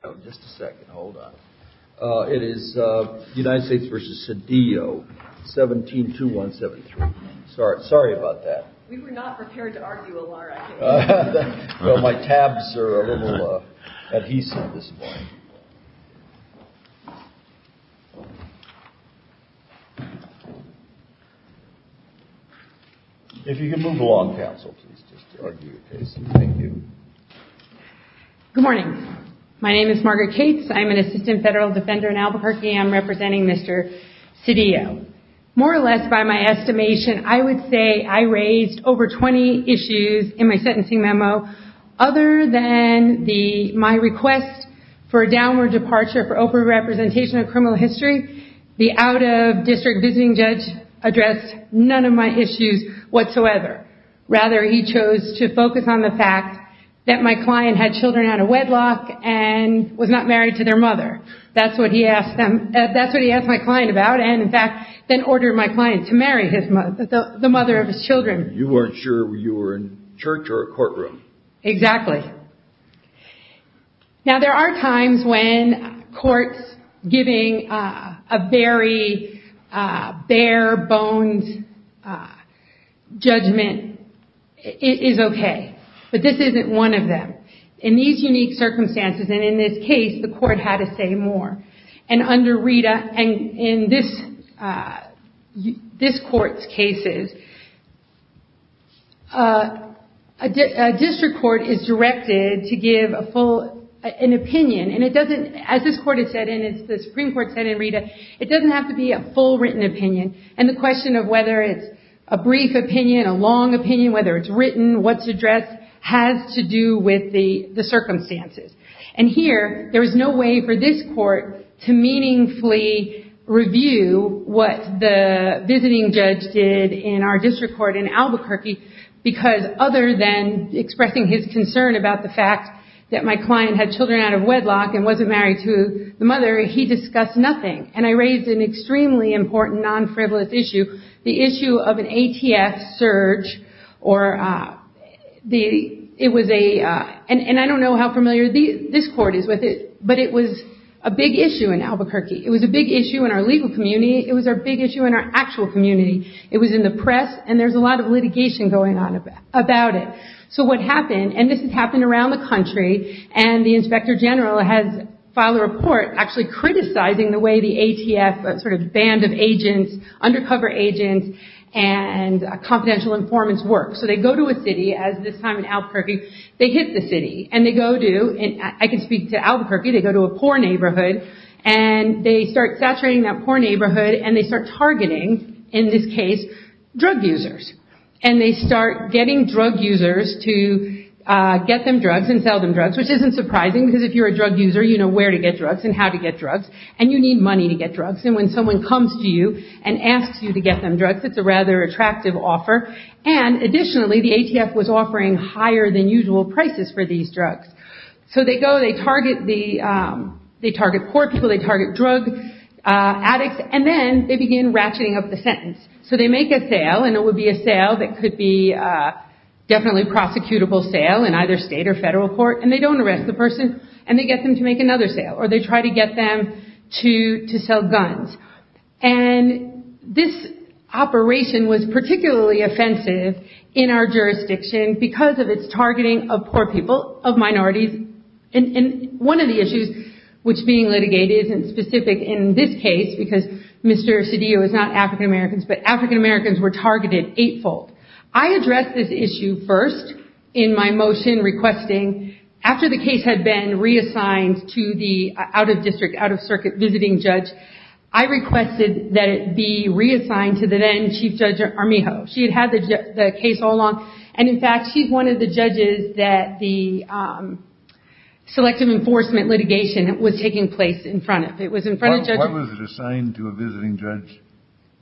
172173. Sorry about that. We were not prepared to argue a lot. My tabs are a little adhesive this morning. If you could move along, counsel, please, just to argue your case. Thank you. Good morning. My name is Margaret Cates. I'm an assistant federal defender in Albuquerque and I'm representing Mr. Sedillo. More or less by my estimation, I would say I raised over 20 issues in my sentencing memo. Other than my request for a downward departure for open representation of criminal history, the out-of-district visiting judge addressed none of my issues whatsoever. Rather, he chose to focus on the fact that my client had children out of wedlock and was not married to their mother. That's what he asked my client about and, in fact, then ordered my client to marry the mother of his children. You weren't sure you were in church or a courtroom. Exactly. Now, there are times when courts giving a very bare-boned judgment is okay, but this isn't one of them. In these unique circumstances and in this case, the court had to say more. In this court's cases, a district court is directed to give an opinion. As the Supreme Court said in Rita, it doesn't have to be a full written opinion. The question of whether it's a brief opinion, a long opinion, whether it's written, what's addressed, has to do with the circumstances. Here, there is no way for this court to meaningfully review what the visiting judge did in our district court in Albuquerque because other than expressing his concern about the fact that my client had children out of wedlock and wasn't married to the mother, he discussed nothing. I raised an extremely important non-frivolous issue, the issue of an ATF surge. I don't know how familiar this court is with it, but it was a big issue in Albuquerque. It was a big issue in our legal community. It was a big issue in our actual community. It was in the press, and there's a lot of litigation going on about it. So what happened, and this has happened around the country, and the Inspector General has filed a report actually criticizing the way the ATF, a sort of band of agents, undercover agents, and confidential informants work. So they go to a city, as this time in Albuquerque, they hit the city, and they go to, I can speak to Albuquerque, they go to a poor neighborhood, and they start saturating that poor neighborhood, and they start targeting, in this case, drug users. And they start getting drug users to get them drugs and sell them drugs, which isn't surprising because if you're a drug user, you know where to get drugs and how to get drugs, and you need money to get drugs, and when someone comes to you and asks you to get them drugs, it's a rather attractive offer. And additionally, the ATF was offering higher than usual prices for these drugs. So they go, they target poor people, they target drug addicts, and then they begin ratcheting up the sentence. So they make a sale, and it would be a sale that could be definitely a prosecutable sale in either state or federal court, and they don't arrest the person, and they get them to make another sale, or they try to get them to sell guns. And this operation was particularly offensive in our jurisdiction because of its targeting of poor people, of minorities, and one of the issues which being litigated isn't specific in this case, because Mr. Cedillo is not African-American, but African-Americans were targeted eightfold. I addressed this issue first in my motion requesting, after the case had been reassigned to the out-of-district, out-of-circuit visiting judge, I requested that it be reassigned to the then Chief Judge Armijo. She had had the case all along, and in fact, she's one of the judges that the selective enforcement litigation was taking place in front of. It was in front of judges. Why was it assigned to a visiting judge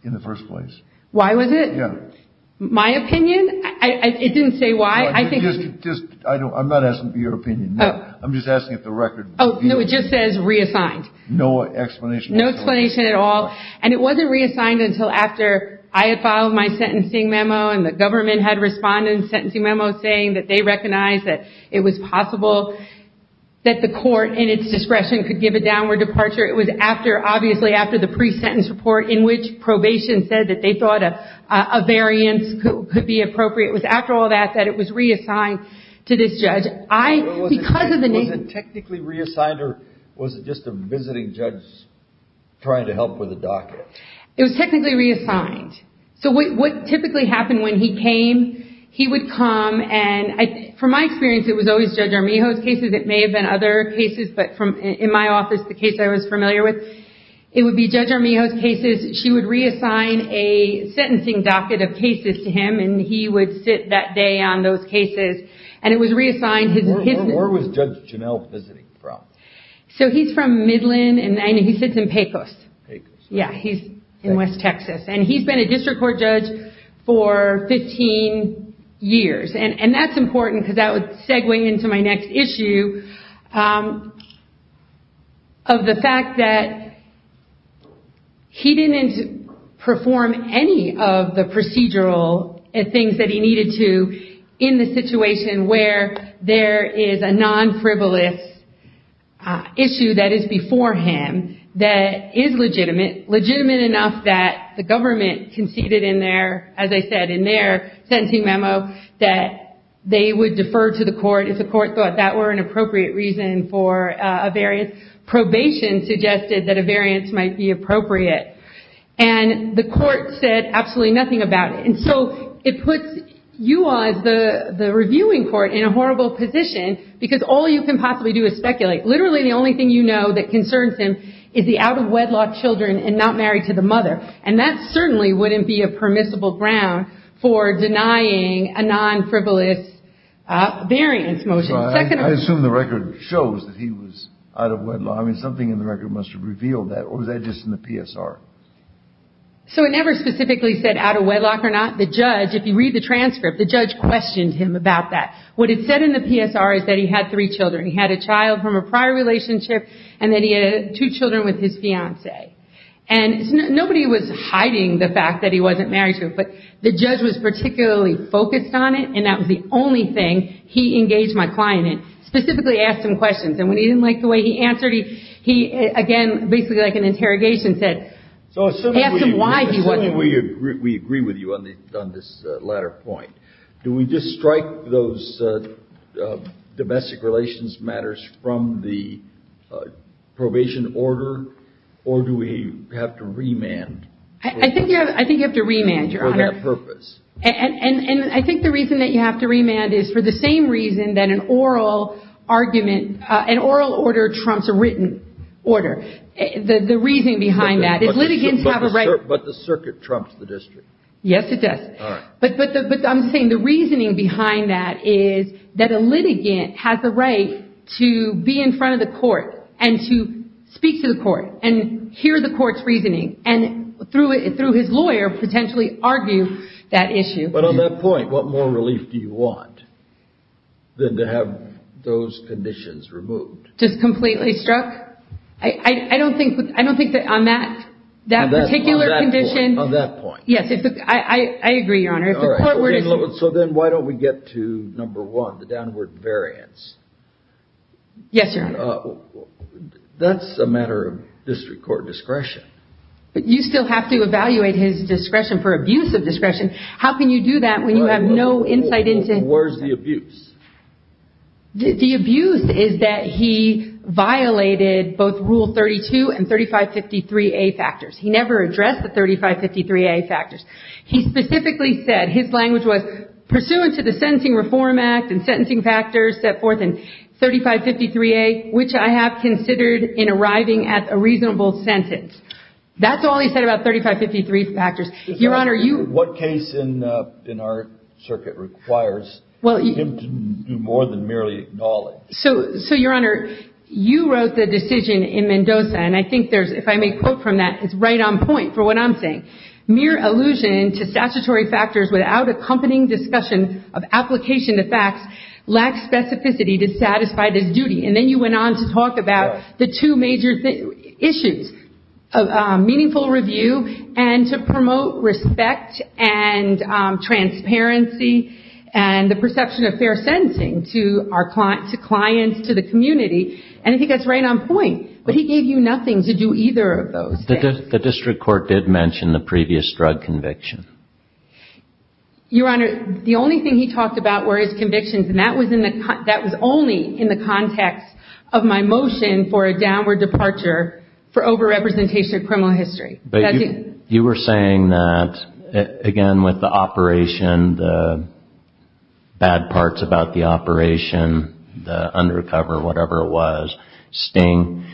in the first place? Why was it? My opinion? It didn't say why. I'm not asking for your opinion. I'm just asking if the record. No, it just says reassigned. No explanation. No explanation at all. And it wasn't reassigned until after I had filed my sentencing memo, and the government had responded in the sentencing memo saying that they recognized that it was possible that the court, in its discretion, could give a downward departure. It was after, obviously, after the pre-sentence report in which probation said that they thought a variance could be appropriate. It was after all that that it was reassigned to this judge. Was it technically reassigned, or was it just a visiting judge trying to help with a docket? It was technically reassigned. So what typically happened when he came, he would come, and from my experience, it was always Judge Armijo's cases. It may have been other cases, but in my office, the case I was familiar with, it would be Judge Armijo's cases. She would reassign a sentencing docket of cases to him, and he would sit that day on those cases. And it was reassigned. Where was Judge Janelle visiting from? So he's from Midland, and he sits in Pecos. Pecos. Yeah, he's in West Texas. And he's been a district court judge for 15 years. And that's important because that would segue into my next issue of the fact that he didn't perform any of the procedural things that he needed to in the situation where there is a non-frivolous issue that is before him that is legitimate, legitimate enough that the government conceded in their, as I said, in their sentencing memo, that they would defer to the court if the court thought that were an appropriate reason for a variance. Probation suggested that a variance might be appropriate. And the court said absolutely nothing about it. And so it puts you all, as the reviewing court, in a horrible position because all you can possibly do is speculate. Literally the only thing you know that concerns him is the out-of-wedlock children and not married to the mother. And that certainly wouldn't be a permissible ground for denying a non-frivolous variance motion. I assume the record shows that he was out-of-wedlock. I mean, something in the record must have revealed that. Or was that just in the PSR? So it never specifically said out-of-wedlock or not. The judge, if you read the transcript, the judge questioned him about that. What it said in the PSR is that he had three children. He had a child from a prior relationship, and then he had two children with his fiancée. And nobody was hiding the fact that he wasn't married to her, but the judge was particularly focused on it, and that was the only thing he engaged my client in, specifically asked him questions. And when he didn't like the way he answered, he, again, basically like an interrogation, said, asked him why he wasn't married. We agree with you on this latter point. Do we just strike those domestic relations matters from the probation order, or do we have to remand? I think you have to remand, Your Honor. For that purpose. And I think the reason that you have to remand is for the same reason that an oral argument, an oral order trumps a written order. The reasoning behind that is litigants have a right. But the circuit trumps the district. Yes, it does. But I'm saying the reasoning behind that is that a litigant has the right to be in front of the court and to speak to the court and hear the court's reasoning and, through his lawyer, potentially argue that issue. But on that point, what more relief do you want than to have those conditions removed? Just completely struck? I don't think that on that particular condition. On that point. Yes, I agree, Your Honor. So then why don't we get to number one, the downward variance? Yes, Your Honor. That's a matter of district court discretion. But you still have to evaluate his discretion for abuse of discretion. How can you do that when you have no insight into it? Where's the abuse? The abuse is that he violated both Rule 32 and 3553A factors. He never addressed the 3553A factors. He specifically said his language was, pursuant to the Sentencing Reform Act and sentencing factors set forth in 3553A, which I have considered in arriving at a reasonable sentence. That's all he said about 3553 factors. What case in our circuit requires him to do more than merely acknowledge? So, Your Honor, you wrote the decision in Mendoza. And I think there's, if I may quote from that, it's right on point for what I'm saying. Mere allusion to statutory factors without accompanying discussion of application of facts lacks specificity to satisfy this duty. And then you went on to talk about the two major issues, meaningful review and to promote respect and transparency and the perception of fair sentencing to clients, to the community. And I think that's right on point. But he gave you nothing to do either of those things. The district court did mention the previous drug conviction. Your Honor, the only thing he talked about were his convictions. And that was only in the context of my motion for a downward departure for over-representation of criminal history. You were saying that, again, with the operation, the bad parts about the operation, the undercover, whatever it was, sting,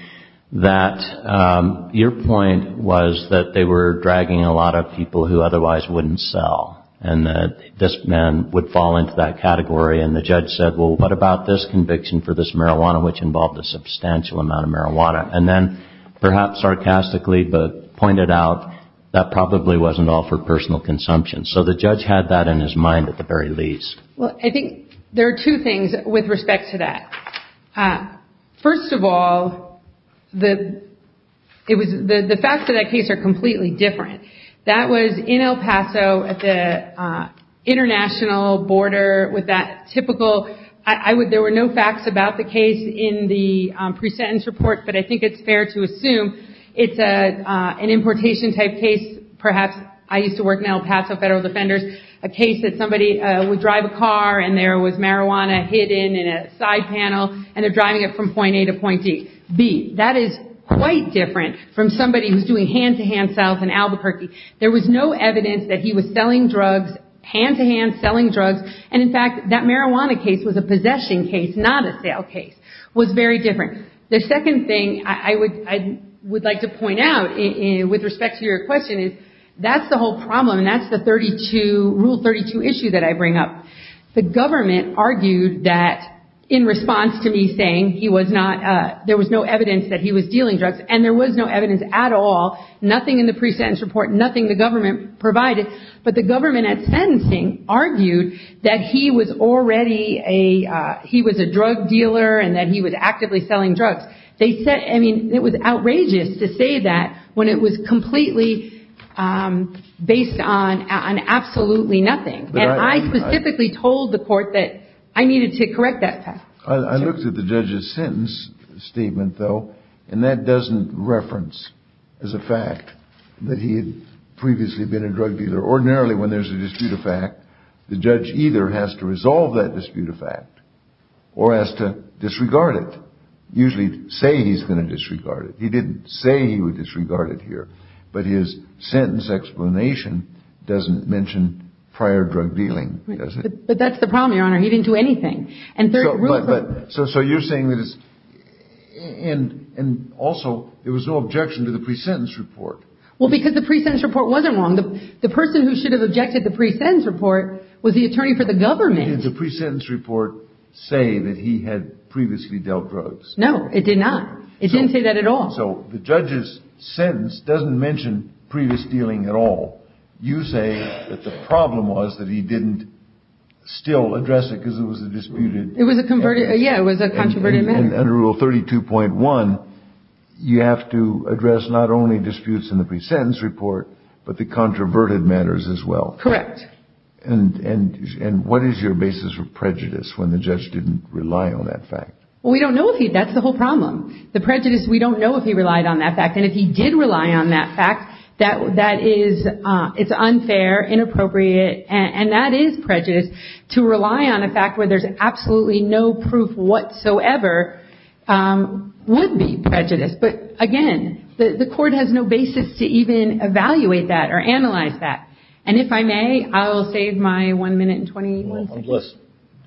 that your point was that they were dragging a lot of people who otherwise wouldn't sell. And that this man would fall into that category. And the judge said, well, what about this conviction for this marijuana, which involved a substantial amount of marijuana? And then, perhaps sarcastically, pointed out that probably wasn't all for personal consumption. So the judge had that in his mind at the very least. Well, I think there are two things with respect to that. First of all, the facts of that case are completely different. That was in El Paso at the international border with that typical – there were no facts about the case in the pre-sentence report, but I think it's fair to assume it's an importation type case. Perhaps I used to work in El Paso Federal Defenders. A case that somebody would drive a car and there was marijuana hidden in a side panel and they're driving it from point A to point D. B, that is quite different from somebody who's doing hand-to-hand sales in Albuquerque. There was no evidence that he was selling drugs, hand-to-hand selling drugs. And, in fact, that marijuana case was a possession case, not a sale case. It was very different. The second thing I would like to point out with respect to your question is that's the whole problem. And that's the Rule 32 issue that I bring up. The government argued that in response to me saying he was not – there was no evidence that he was dealing drugs, and there was no evidence at all, nothing in the pre-sentence report, nothing the government provided. But the government at sentencing argued that he was already a – he was a drug dealer and that he was actively selling drugs. They said – I mean, it was outrageous to say that when it was completely based on absolutely nothing. And I specifically told the court that I needed to correct that fact. I looked at the judge's sentence statement, though, and that doesn't reference as a fact that he had previously been a drug dealer. Ordinarily, when there's a dispute of fact, the judge either has to resolve that dispute of fact or has to disregard it. He doesn't usually say he's going to disregard it. He didn't say he would disregard it here. But his sentence explanation doesn't mention prior drug dealing, does it? But that's the problem, Your Honor. He didn't do anything. So you're saying that it's – and also, there was no objection to the pre-sentence report. Well, because the pre-sentence report wasn't wrong. The person who should have objected to the pre-sentence report was the attorney for the government. Did the pre-sentence report say that he had previously dealt drugs? No, it did not. It didn't say that at all. So the judge's sentence doesn't mention previous dealing at all. You say that the problem was that he didn't still address it because it was a disputed – It was a – yeah, it was a controverted matter. And under Rule 32.1, you have to address not only disputes in the pre-sentence report, but the controverted matters as well. Correct. And what is your basis for prejudice when the judge didn't rely on that fact? Well, we don't know if he – that's the whole problem. The prejudice, we don't know if he relied on that fact. And if he did rely on that fact, that is – it's unfair, inappropriate, and that is prejudice. To rely on a fact where there's absolutely no proof whatsoever would be prejudice. But, again, the court has no basis to even evaluate that or analyze that. And if I may, I will save my one minute and 21 seconds. Unless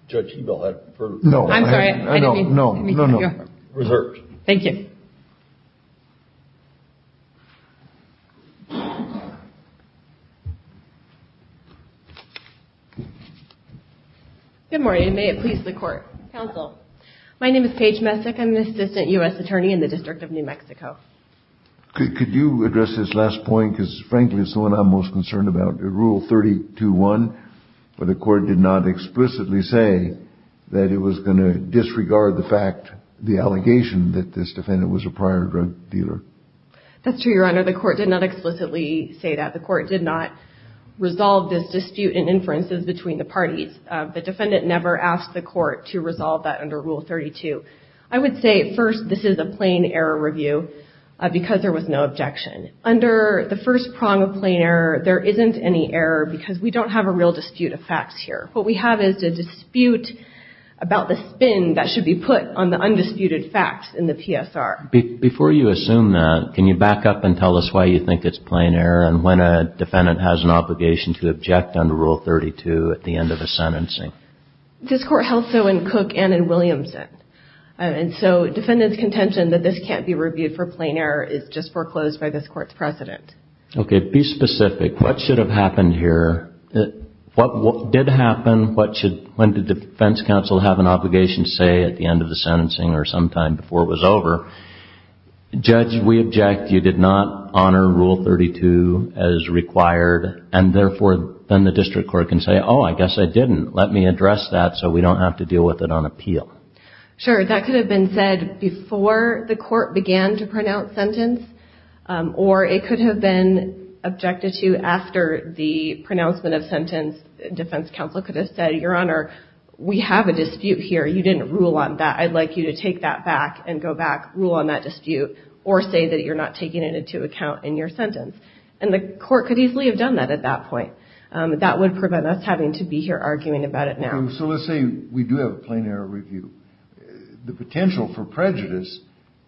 Judge Ebel had further – No. I'm sorry. I didn't mean – No, no, no. Reserved. Thank you. Good morning. May it please the Court. Counsel. My name is Paige Messick. I'm an assistant U.S. attorney in the District of New Mexico. Could you address this last point? Because, frankly, it's the one I'm most concerned about. Rule 32-1, where the court did not explicitly say that it was going to disregard the fact – the allegation that this defendant was a prior drug dealer. That's true, Your Honor. The court did not explicitly say that. The court did not resolve this dispute in inferences between the parties. The defendant never asked the court to resolve that under Rule 32. I would say, first, this is a plain error review because there was no objection. Under the first prong of plain error, there isn't any error because we don't have a real dispute of facts here. What we have is a dispute about the spin that should be put on the undisputed facts in the PSR. Before you assume that, can you back up and tell us why you think it's plain error and when a defendant has an obligation to object under Rule 32 at the end of a sentencing? This court held so in Cook and in Williamson. And so defendant's contention that this can't be reviewed for plain error is just foreclosed by this court's precedent. Okay, be specific. What should have happened here? What did happen? What should – when did the defense counsel have an obligation to say at the end of the sentencing or sometime before it was over? Judge, we object. You did not honor Rule 32 as required. And, therefore, then the district court can say, oh, I guess I didn't. Let me address that so we don't have to deal with it on appeal. Sure. That could have been said before the court began to pronounce sentence or it could have been objected to after the pronouncement of sentence. Defense counsel could have said, Your Honor, we have a dispute here. You didn't rule on that. I'd like you to take that back and go back, rule on that dispute, or say that you're not taking it into account in your sentence. And the court could easily have done that at that point. That would prevent us having to be here arguing about it now. So let's say we do have a plain error review. The potential for prejudice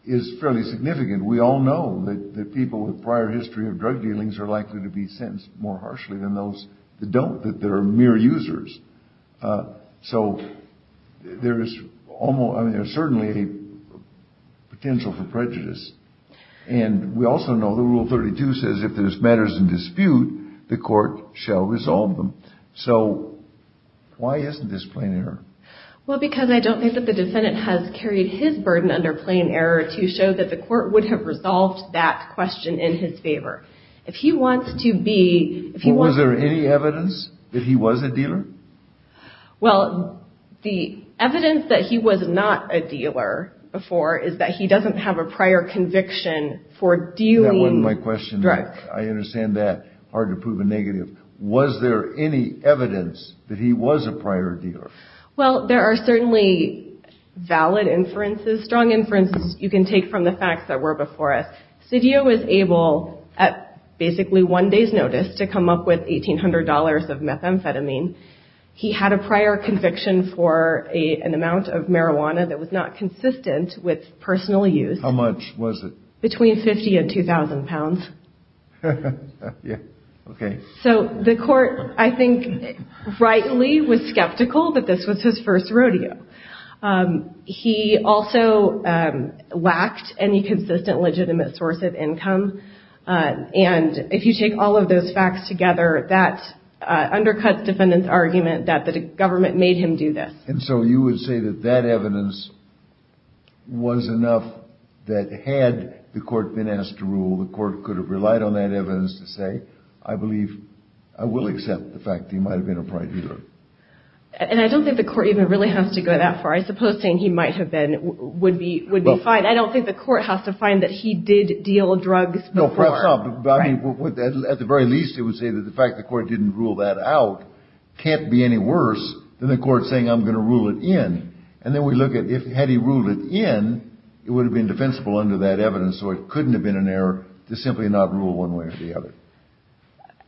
is fairly significant. We all know that people with prior history of drug dealings are likely to be sentenced more harshly than those that don't, that they're mere users. So there is almost – I mean, there's certainly a potential for prejudice. And we also know that Rule 32 says if there's matters in dispute, the court shall resolve them. So why isn't this plain error? Well, because I don't think that the defendant has carried his burden under plain error to show that the court would have resolved that question in his favor. If he wants to be – Was there any evidence that he was a dealer? Well, the evidence that he was not a dealer before is that he doesn't have a prior conviction for dealing drugs. That wasn't my question. I understand that. Hard to prove a negative. Was there any evidence that he was a prior dealer? Well, there are certainly valid inferences, strong inferences you can take from the facts that were before us. Sidio was able, at basically one day's notice, to come up with $1,800 of methamphetamine. He had a prior conviction for an amount of marijuana that was not consistent with personal use. How much was it? Between 50 and 2,000 pounds. Yeah, okay. So the court, I think, rightly was skeptical that this was his first rodeo. He also lacked any consistent, legitimate source of income. And if you take all of those facts together, that undercuts the defendant's argument that the government made him do this. And so you would say that that evidence was enough that had the court been asked to rule, the court could have relied on that evidence to say, I believe, I will accept the fact that he might have been a prior dealer. And I don't think the court even really has to go that far. I suppose saying he might have been would be fine. I don't think the court has to find that he did deal drugs before. At the very least, it would say that the fact the court didn't rule that out can't be any worse than the court saying, I'm going to rule it in. And then we look at, had he ruled it in, it would have been defensible under that evidence. So it couldn't have been an error to simply not rule one way or the other.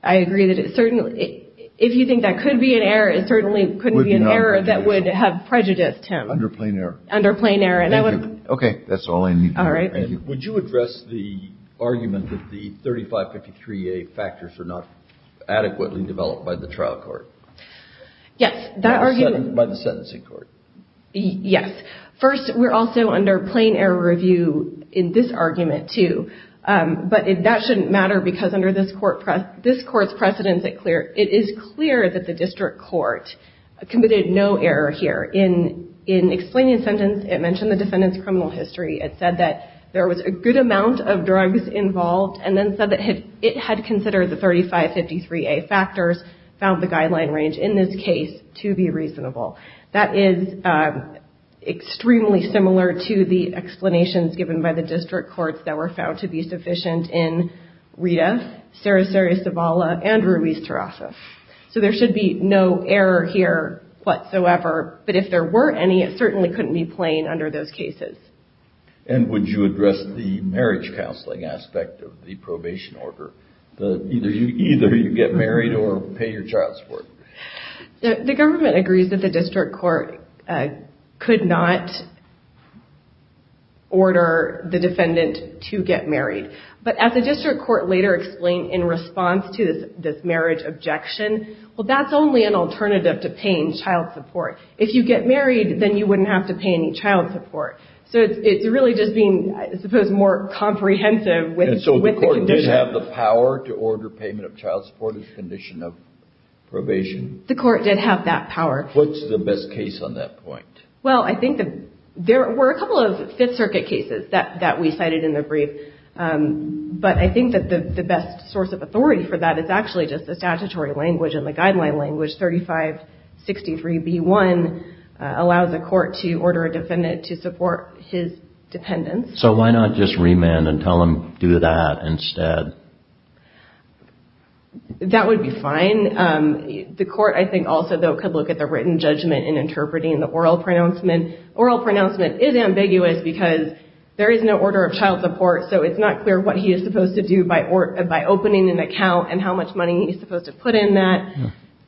I agree that it certainly, if you think that could be an error, it certainly couldn't be an error that would have prejudiced him. Under plain error. Under plain error. Okay. That's all I need. All right. Would you address the argument that the 3553A factors are not adequately developed by the trial court? Yes. By the sentencing court. Yes. First, we're also under plain error review in this argument, too. But that shouldn't matter because under this court's precedence, it is clear that the district court committed no error here. In explaining the sentence, it mentioned the defendant's criminal history. It said that there was a good amount of drugs involved and then said that it had considered the 3553A factors, found the guideline range in this case to be reasonable. That is extremely similar to the explanations given by the district courts that were found to be sufficient in Rita, Sarasurya-Savala, and Ruiz-Torraza. So there should be no error here whatsoever, but if there were any, it certainly couldn't be plain under those cases. And would you address the marriage counseling aspect of the probation order? Either you get married or pay your child support. The government agrees that the district court could not order the defendant to get married. But as the district court later explained in response to this marriage objection, well, that's only an alternative to paying child support. If you get married, then you wouldn't have to pay any child support. So it's really just being, I suppose, more comprehensive with the condition. And so the court did have the power to order payment of child support as a condition of probation? The court did have that power. What's the best case on that point? Well, I think there were a couple of Fifth Circuit cases that we cited in the brief, but I think that the best source of authority for that is actually just the statutory language and the guideline language, 3563B1 allows a court to order a defendant to support his dependents. So why not just remand and tell him do that instead? That would be fine. The court, I think, also, though, could look at the written judgment in interpreting the oral pronouncement. Oral pronouncement is ambiguous because there is no order of child support, so it's not clear what he is supposed to do by opening an account and how much money he's supposed to put in that.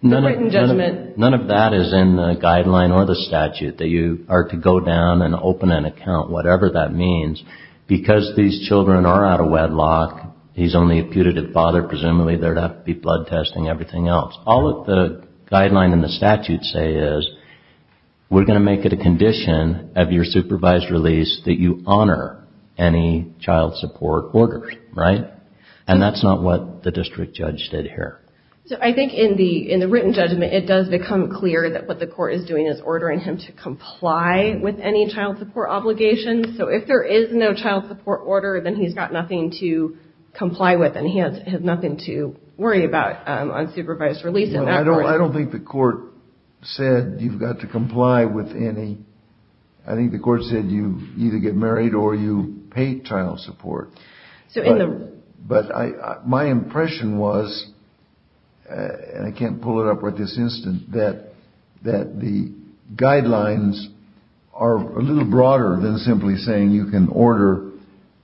The written judgment. None of that is in the guideline or the statute, that you are to go down and open an account, whatever that means. Because these children are out of wedlock, he's only a putative father. Presumably there would have to be blood testing and everything else. All that the guideline and the statute say is we're going to make it a condition of your supervised release that you honor any child support orders, right? And that's not what the district judge did here. So I think in the written judgment, it does become clear that what the court is doing is ordering him to comply with any child support obligations. So if there is no child support order, then he's got nothing to comply with and he has nothing to worry about on supervised release. I don't think the court said you've got to comply with any. I think the court said you either get married or you pay child support. But my impression was, and I can't pull it up at this instant, that the guidelines are a little broader than simply saying you can order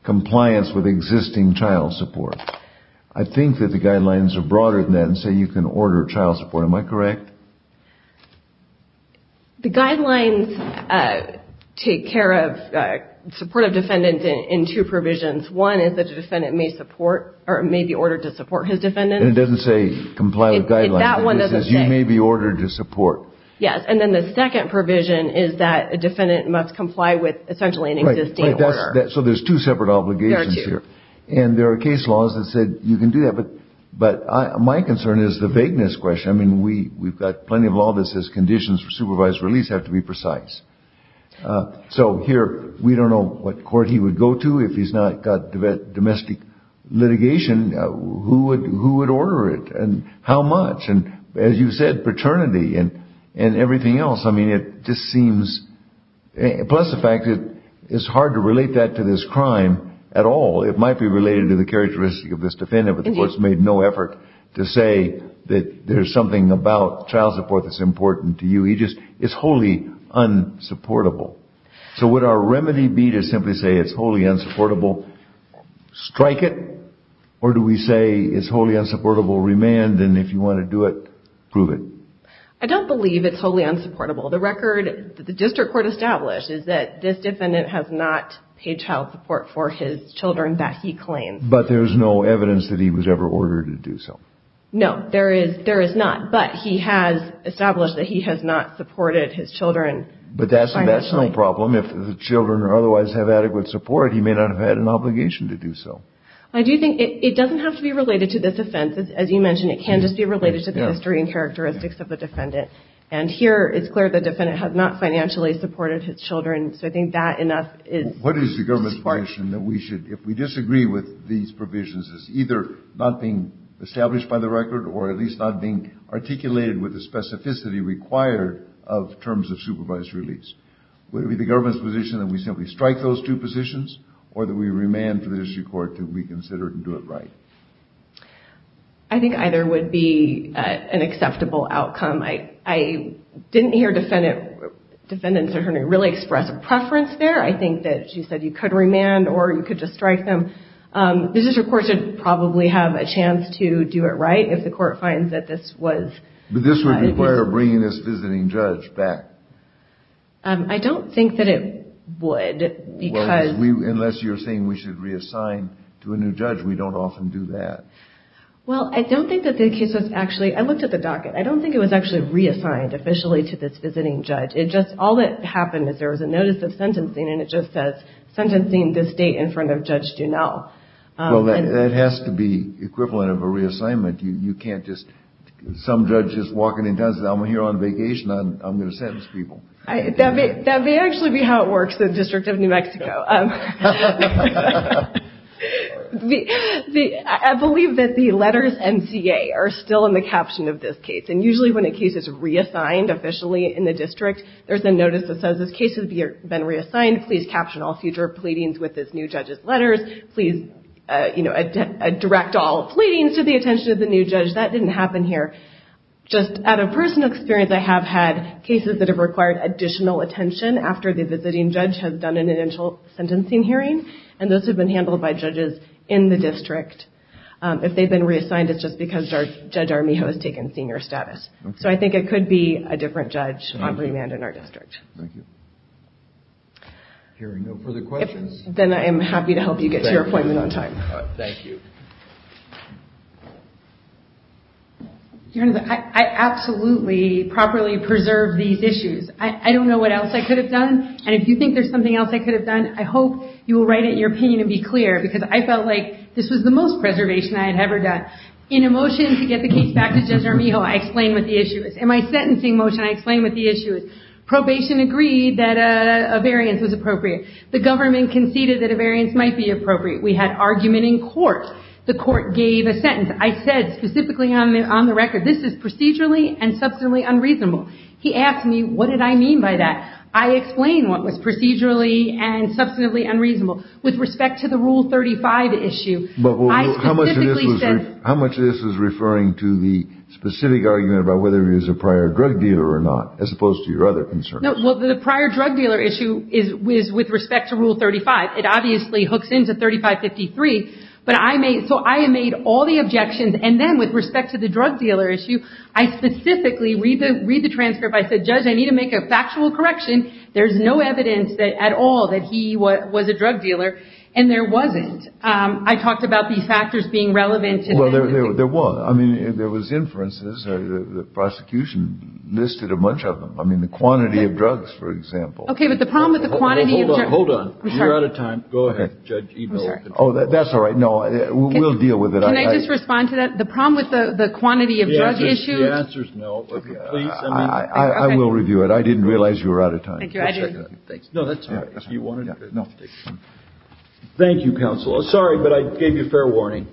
compliance with existing child support. I think that the guidelines are broader than that and say you can order child support. Am I correct? The guidelines take care of supportive defendants in two provisions. One is that a defendant may be ordered to support his defendant. It doesn't say comply with guidelines. That one doesn't say. It says you may be ordered to support. Yes. And then the second provision is that a defendant must comply with essentially an existing order. Right. So there's two separate obligations here. There are two. And there are case laws that said you can do that. But my concern is the vagueness question. I mean, we've got plenty of law that says conditions for supervised release have to be precise. So here we don't know what court he would go to. If he's not got domestic litigation, who would order it and how much? And as you said, paternity and everything else. I mean, it just seems, plus the fact that it's hard to relate that to this crime at all. It might be related to the characteristic of this defendant. But the court's made no effort to say that there's something about child support that's important to you. It's wholly unsupportable. So would our remedy be to simply say it's wholly unsupportable, strike it, or do we say it's wholly unsupportable, remand, and if you want to do it, prove it? I don't believe it's wholly unsupportable. The record that the district court established is that this defendant has not paid child support for his children that he claims. But there's no evidence that he was ever ordered to do so. No, there is not. But he has established that he has not supported his children financially. But that's a national problem. If the children otherwise have adequate support, he may not have had an obligation to do so. I do think it doesn't have to be related to this offense. As you mentioned, it can just be related to the history and characteristics of the defendant. And here it's clear the defendant has not financially supported his children, so I think that enough is sufficient. If we disagree with these provisions, it's either not being established by the record or at least not being articulated with the specificity required of terms of supervised release. Would it be the government's position that we simply strike those two positions or that we remand for the district court to reconsider it and do it right? I think either would be an acceptable outcome. I didn't hear Defendant Sir Henry really express a preference there. I think that she said you could remand or you could just strike them. The district court should probably have a chance to do it right if the court finds that this was— But this would require bringing this visiting judge back. I don't think that it would because— Unless you're saying we should reassign to a new judge. We don't often do that. Well, I don't think that the case was actually—I looked at the docket. I don't think it was actually reassigned officially to this visiting judge. It just—all that happened is there was a notice of sentencing and it just says, Sentencing this date in front of Judge Dunell. Well, that has to be equivalent of a reassignment. You can't just—some judge is walking in town and says, I'm here on vacation. I'm going to sentence people. That may actually be how it works in the District of New Mexico. I believe that the letters NCA are still in the caption of this case. And usually when a case is reassigned officially in the district, there's a notice that says this case has been reassigned. Please caption all future pleadings with this new judge's letters. Please direct all pleadings to the attention of the new judge. That didn't happen here. Just out of personal experience, I have had cases that have required additional attention after the visiting judge has done an initial sentencing hearing. And those have been handled by judges in the district. If they've been reassigned, it's just because Judge Armijo has taken senior status. So I think it could be a different judge on remand in our district. Thank you. Hearing no further questions. Then I am happy to help you get to your appointment on time. Thank you. I absolutely properly preserved these issues. I don't know what else I could have done. And if you think there's something else I could have done, I hope you will write it in your opinion and be clear, because I felt like this was the most preservation I had ever done. In a motion to get the case back to Judge Armijo, I explained what the issue is. In my sentencing motion, I explained what the issue is. Probation agreed that a variance was appropriate. The government conceded that a variance might be appropriate. We had argument in court. The court gave a sentence. I said specifically on the record, this is procedurally and substantially unreasonable. He asked me, what did I mean by that? I explained what was procedurally and substantively unreasonable. With respect to the Rule 35 issue, I specifically said. How much of this is referring to the specific argument about whether he was a prior drug dealer or not, as opposed to your other concerns? Well, the prior drug dealer issue is with respect to Rule 35. It obviously hooks into 3553. So I made all the objections. And then with respect to the drug dealer issue, I specifically read the transcript. I said, Judge, I need to make a factual correction. There's no evidence at all that he was a drug dealer. And there wasn't. I talked about these factors being relevant. Well, there was. I mean, there was inferences. The prosecution listed a bunch of them. I mean, the quantity of drugs, for example. Okay, but the problem with the quantity of drugs. Hold on. You're out of time. Go ahead, Judge Eagle. Oh, that's all right. No, we'll deal with it. Can I just respond to that? The problem with the quantity of drug issues. The answer is no. I will review it. I didn't realize you were out of time. No, that's all right. Thank you, counsel. Sorry, but I gave you fair warning.